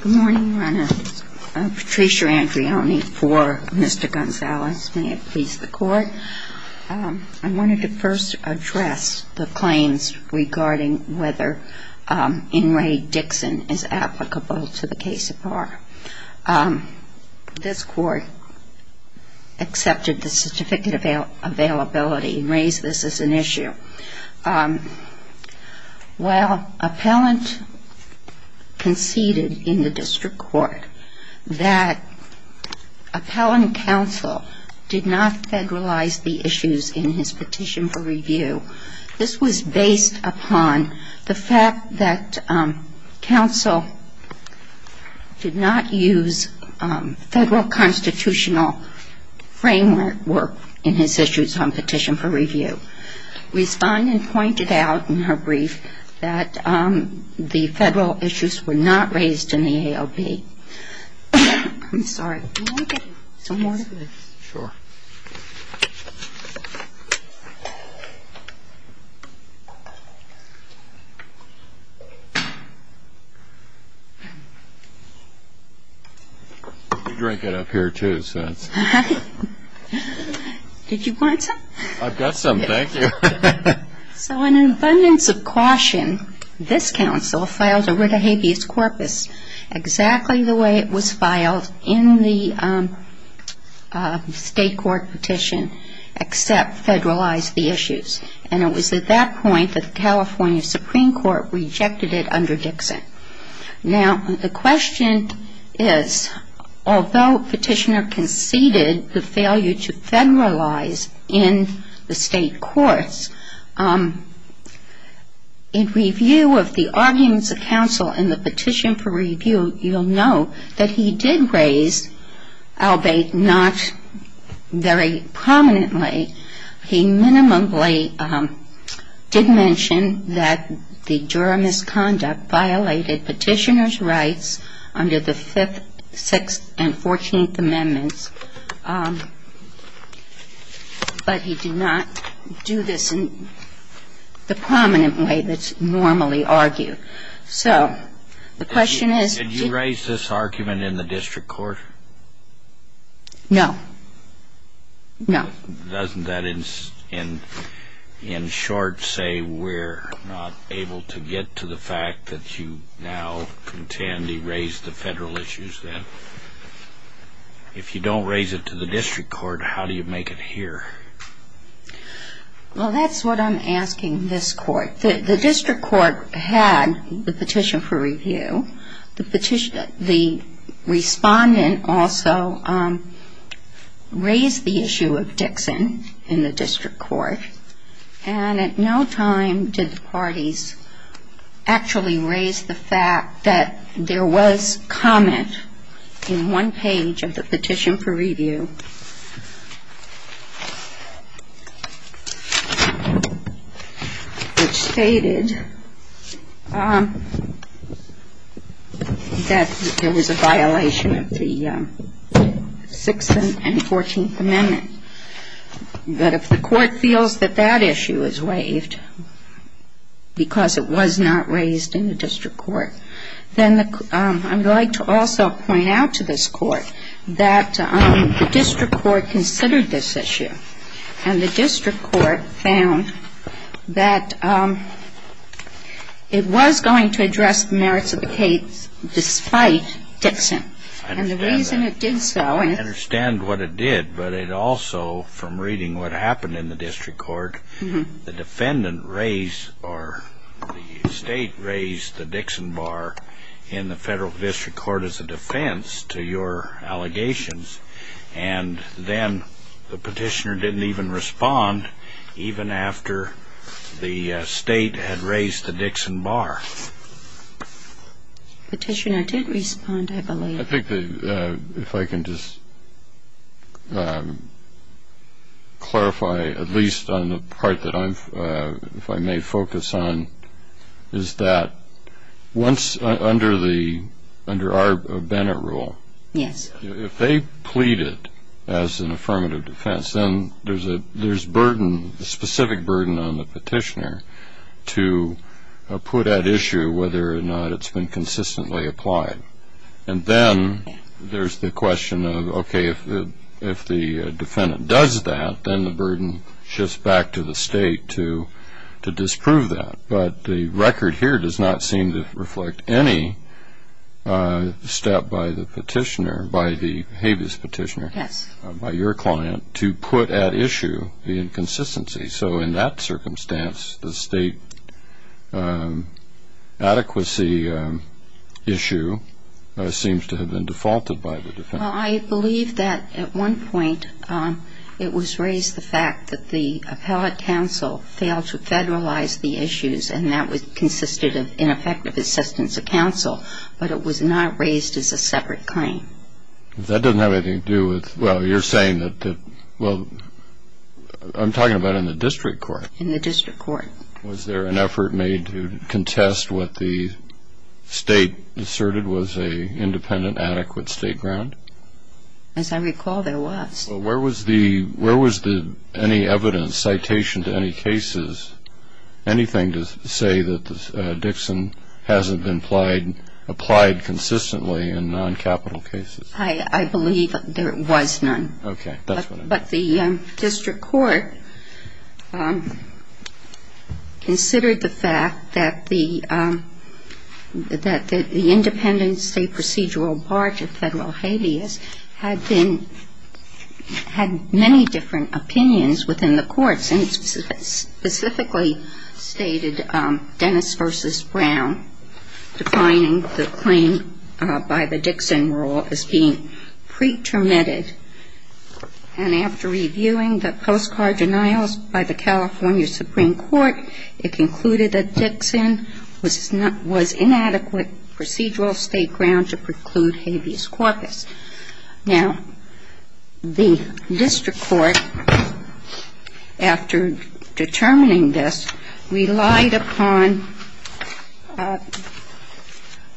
Good morning. I'm Patricia Andrioni for Mr. Gonzales. May it please the Court. I wanted to first address the claims regarding whether Inmate Dixon is applicable to the case of R. This Court accepted the certificate of availability and raised this as an issue. While appellant conceded in the district court that appellant counsel did not federalize the issues in his petition for review, this was based upon the fact that counsel did not use federal constitutional framework in his issues on petition for review. Respondent pointed out in her brief that the federal issues were not raised in the ALP. I'm sorry. Can we get some water? Did you want some? I've got some, thank you. So in abundance of caution, this counsel filed a writ of habeas corpus exactly the way it was filed in the state court petition except federalized the issues. And it was at that point that the California Supreme Court rejected it under Dixon. Now, the question is, although petitioner conceded the failure to federalize in the state courts, in review of the arguments of counsel in the petition for review, you'll know that he did raise ALBATE not very prominently. He minimally did mention that the juror misconduct violated petitioner's rights under the Fifth, Sixth, and Fourteenth Amendments, but he did not do this in the prominent way that's normally argued. So the question is he raised this argument in the district court? No. No. Doesn't that in short say we're not able to get to the fact that you now contend he raised the federal issues then? If you don't raise it to the district court, how do you make it here? Well, that's what I'm asking this court. The district court had the petition for review. The respondent also raised the issue of Dixon in the district court, and at no time did the parties actually raise the fact that there was comment in one page of the petition for review that stated that there was a violation of the Sixth and Fourteenth Amendments. But if the court feels that that issue is waived because it was not raised in the district court, then I would like to also point out to this court that the district court did not raise this issue. The district court considered this issue, and the district court found that it was going to address the merits of the case despite Dixon. And the reason it did so and it also from reading what happened in the district court, the defendant raised or the State raised the Dixon bar in the federal district court as a defense to your allegations. And then the petitioner didn't even respond even after the State had raised the Dixon bar. Petitioner did respond, I believe. I think if I can just clarify, at least on the part that I may focus on, is that once under our Bennet rule, if they plead it as an affirmative defense, then there's a specific burden on the petitioner to put at issue whether or not it's been consistently applied. And then there's the question of, okay, if the defendant does that, then the burden shifts back to the State to disprove that. But the record here does not seem to reflect any step by the petitioner, by the habeas petitioner, by your client, to put at issue the inconsistency. So in that circumstance, the State adequacy issue seems to have been defaulted by the defendant. Well, I believe that at one point it was raised the fact that the appellate counsel failed to federalize the issues, and that consisted of ineffective assistance of counsel. But it was not raised as a separate claim. That doesn't have anything to do with – well, you're saying that – well, I'm talking about in the district court. In the district court. Was there an effort made to contest what the State asserted was an independent, adequate State ground? As I recall, there was. Well, where was the – any evidence, citation to any cases, anything to say that Dixon hasn't been applied consistently in non-capital cases? I believe there was none. Okay. That's what I'm saying. But the district court considered the fact that the independent State procedural part of federal habeas had been – had many different opinions within the courts, and specifically stated Dennis v. Brown, defining the claim by the Dixon rule as being pretermitted. And after reviewing the postcard denials by the California Supreme Court, it concluded that Dixon was inadequate procedural State ground to preclude habeas corpus. Now, the district court, after determining this, relied upon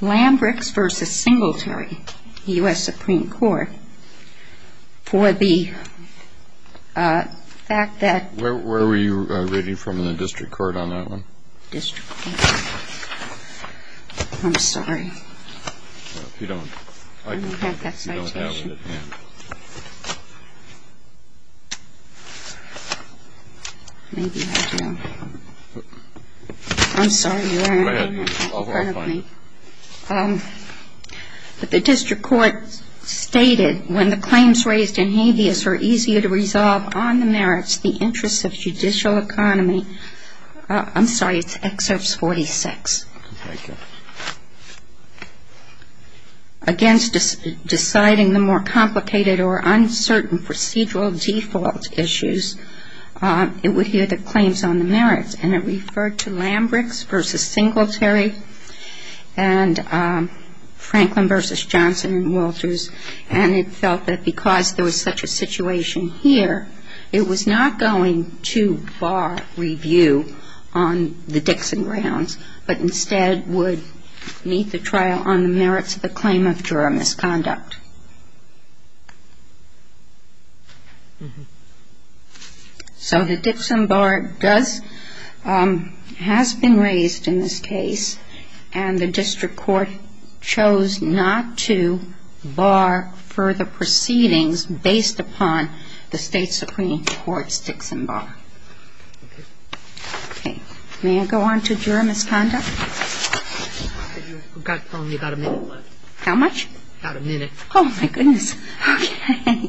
Lambrix v. Singletary, U.S. Supreme Court, for the fact that – Where were you reading from in the district court on that one? District court. I'm sorry. Well, if you don't – I don't have that citation. You don't have it, yeah. Maybe I do. I'm sorry. Go ahead. I'll find it. But the district court stated, when the claims raised in habeas are easier to resolve on the merits, the interests of judicial economy – I'm sorry, it's excerpts 46. Against deciding the more complicated or uncertain procedural default issues, it would hear the claims on the merits. And it referred to Lambrix v. Singletary and Franklin v. Johnson and Walters. And it felt that because there was such a situation here, it was not going to bar review on the Dixon grounds, but instead would meet the trial on the merits of the claim of juror misconduct. So the Dixon bar does – has been raised in this case. And the district court chose not to bar further proceedings based upon the State Supreme Court's Dixon bar. Okay. May I go on to juror misconduct? You've got only about a minute left. How much? About a minute. Oh, my goodness. Okay.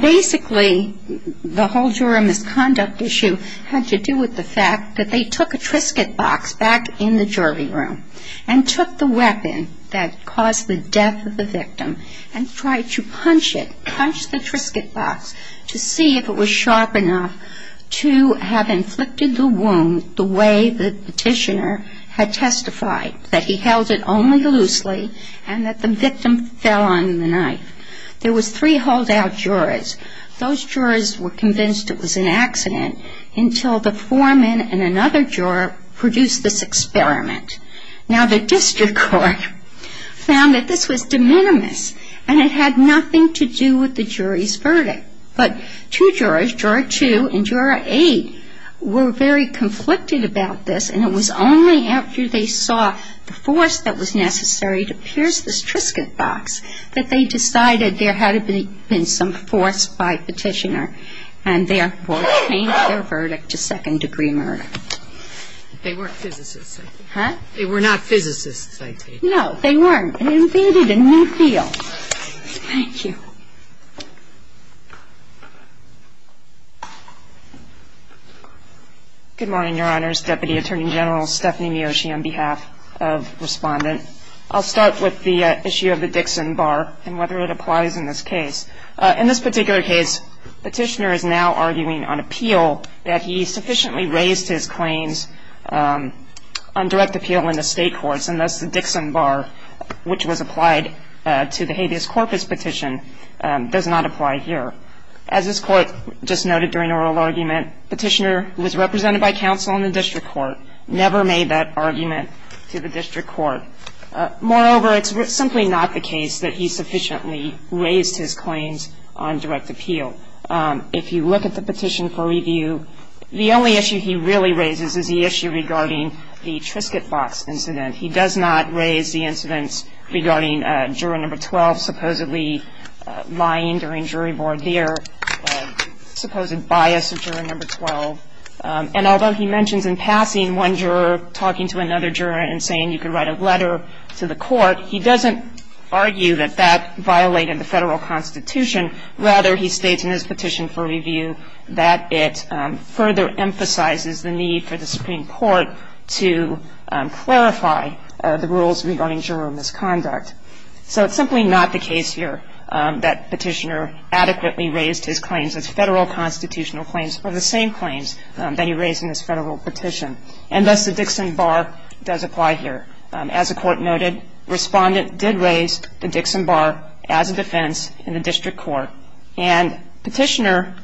Basically, the whole juror misconduct issue had to do with the fact that they took a Triscuit box back in the jury room and took the weapon that caused the death of the victim and tried to punch it, punch the Triscuit box, to see if it was sharp enough to have inflicted the wound the way the petitioner had testified, that he held it only loosely and that the victim fell on the knife. There was three holdout jurors. Those jurors were convinced it was an accident until the foreman and another juror produced this experiment. Now, the district court found that this was de minimis, and it had nothing to do with the jury's verdict. But two jurors, juror two and juror eight, were very conflicted about this, and it was only after they saw the force that was necessary to pierce this Triscuit box that they decided there had been some force by petitioner and therefore changed their verdict to second-degree murder. They were physicists. Huh? They were not physicists, I take it. No, they weren't. They invented a new field. Thank you. Good morning, Your Honors. Deputy Attorney General Stephanie Miyoshi on behalf of Respondent. I'll start with the issue of the Dixon bar and whether it applies in this case. In this particular case, petitioner is now arguing on appeal that he sufficiently raised his claims on direct appeal in the state courts, and thus the Dixon bar, which was applied to the habeas corpus petition, does not apply here. As this Court just noted during the oral argument, petitioner was represented by counsel in the district court, never made that argument to the district court. Moreover, it's simply not the case that he sufficiently raised his claims on direct appeal. If you look at the petition for review, the only issue he really raises is the issue regarding the Triscuit box incident. He does not raise the incidents regarding juror number 12 supposedly lying during jury board there, supposed bias of juror number 12. And although he mentions in passing one juror talking to another juror and saying you can write a letter to the court, he doesn't argue that that violated the federal constitution. Rather, he states in his petition for review that it further emphasizes the need for the Supreme Court to clarify the rules regarding juror misconduct. So it's simply not the case here that petitioner adequately raised his claims as federal constitutional claims or the same claims that he raised in his federal petition. And thus, the Dixon bar does apply here. As the Court noted, respondent did raise the Dixon bar as a defense in the district court. And petitioner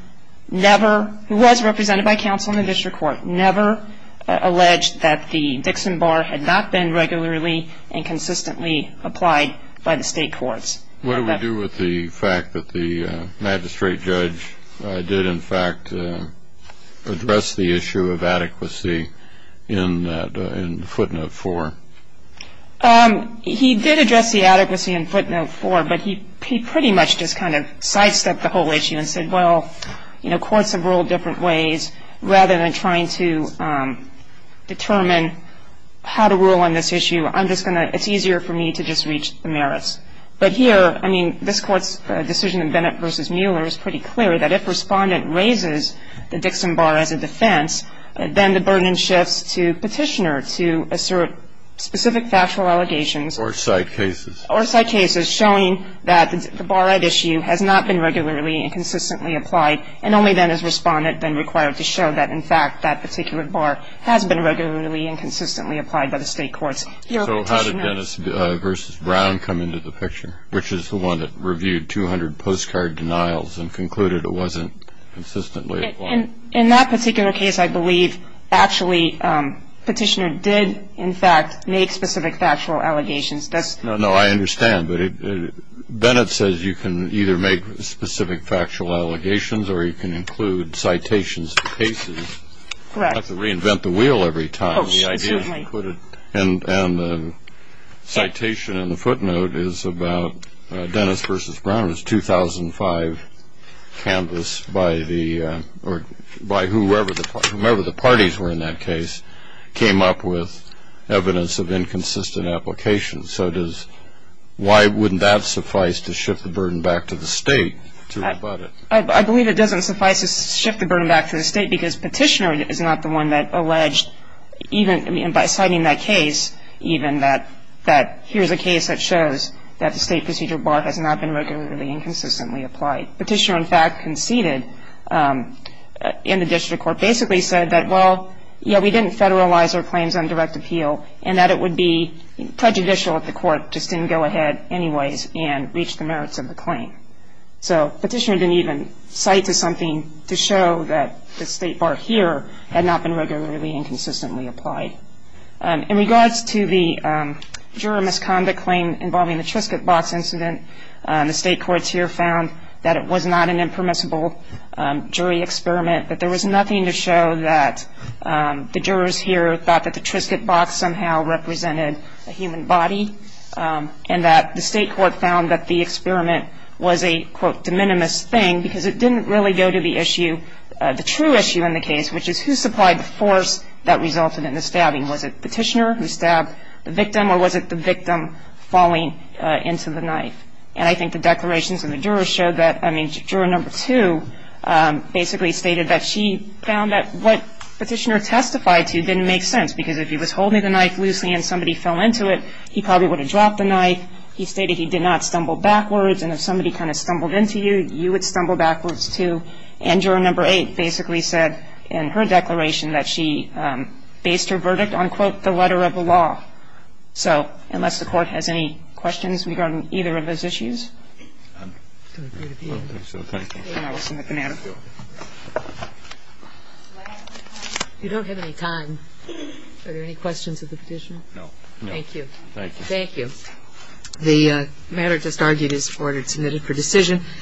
never, who was represented by counsel in the district court, never alleged that the Dixon bar had not been regularly and consistently applied by the state courts. What do we do with the fact that the magistrate judge did, in fact, address the issue of adequacy in footnote 4? He did address the adequacy in footnote 4, but he pretty much just kind of sidestepped the whole issue and said, well, you know, courts have ruled different ways. Rather than trying to determine how to rule on this issue, I'm just going to ‑‑ it's easier for me to just reach the merits. But here, I mean, this Court's decision in Bennett v. Mueller is pretty clear, that if respondent raises the Dixon bar as a defense, then the burden shifts to petitioner to assert specific factual allegations. Or side cases. Or side cases, showing that the bar at issue has not been regularly and consistently applied, and only then is respondent then required to show that, in fact, that particular bar has been regularly and consistently applied by the state courts. So how did Dennis v. Brown come into the picture, which is the one that reviewed 200 postcard denials and concluded it wasn't consistently applied? In that particular case, I believe, actually, petitioner did, in fact, make specific factual allegations. No, I understand, but Bennett says you can either make specific factual allegations or you can include citations of cases. Correct. You don't have to reinvent the wheel every time. Oh, excuse me. And the citation in the footnote is about Dennis v. Brown. It was 2005 canvass by whoever the parties were in that case, came up with evidence of inconsistent application. So why wouldn't that suffice to shift the burden back to the state to rebut it? I believe it doesn't suffice to shift the burden back to the state because petitioner is not the one that alleged, even by citing that case, even that here's a case that shows that the state procedure bar has not been regularly and consistently applied. Petitioner, in fact, conceded in the district court basically said that, well, yeah, we didn't federalize our claims on direct appeal and that it would be prejudicial if the court just didn't go ahead anyways and reach the merits of the claim. So petitioner didn't even cite to something to show that the state bar here had not been regularly and consistently applied. In regards to the juror misconduct claim involving the Triscuit box incident, the state courts here found that it was not an impermissible jury experiment, that there was nothing to show that the jurors here thought that the Triscuit box somehow represented a human body and that the state court found that the experiment was a, quote, de minimis thing because it didn't really go to the issue, the true issue in the case, which is who supplied the force that resulted in the stabbing. Was it petitioner who stabbed the victim or was it the victim falling into the knife? And I think the declarations in the jurors showed that, I mean, juror number two basically stated that she found that what petitioner testified to didn't make sense because if he was holding the knife loosely and somebody fell into it, he probably would have dropped the knife. He stated he did not stumble backwards. And if somebody kind of stumbled into you, you would stumble backwards, too. And juror number eight basically said in her declaration that she based her verdict on, quote, the letter of the law. So unless the Court has any questions regarding either of those issues? Thank you. Thank you. The matter just argued is forwarded, submitted for decision.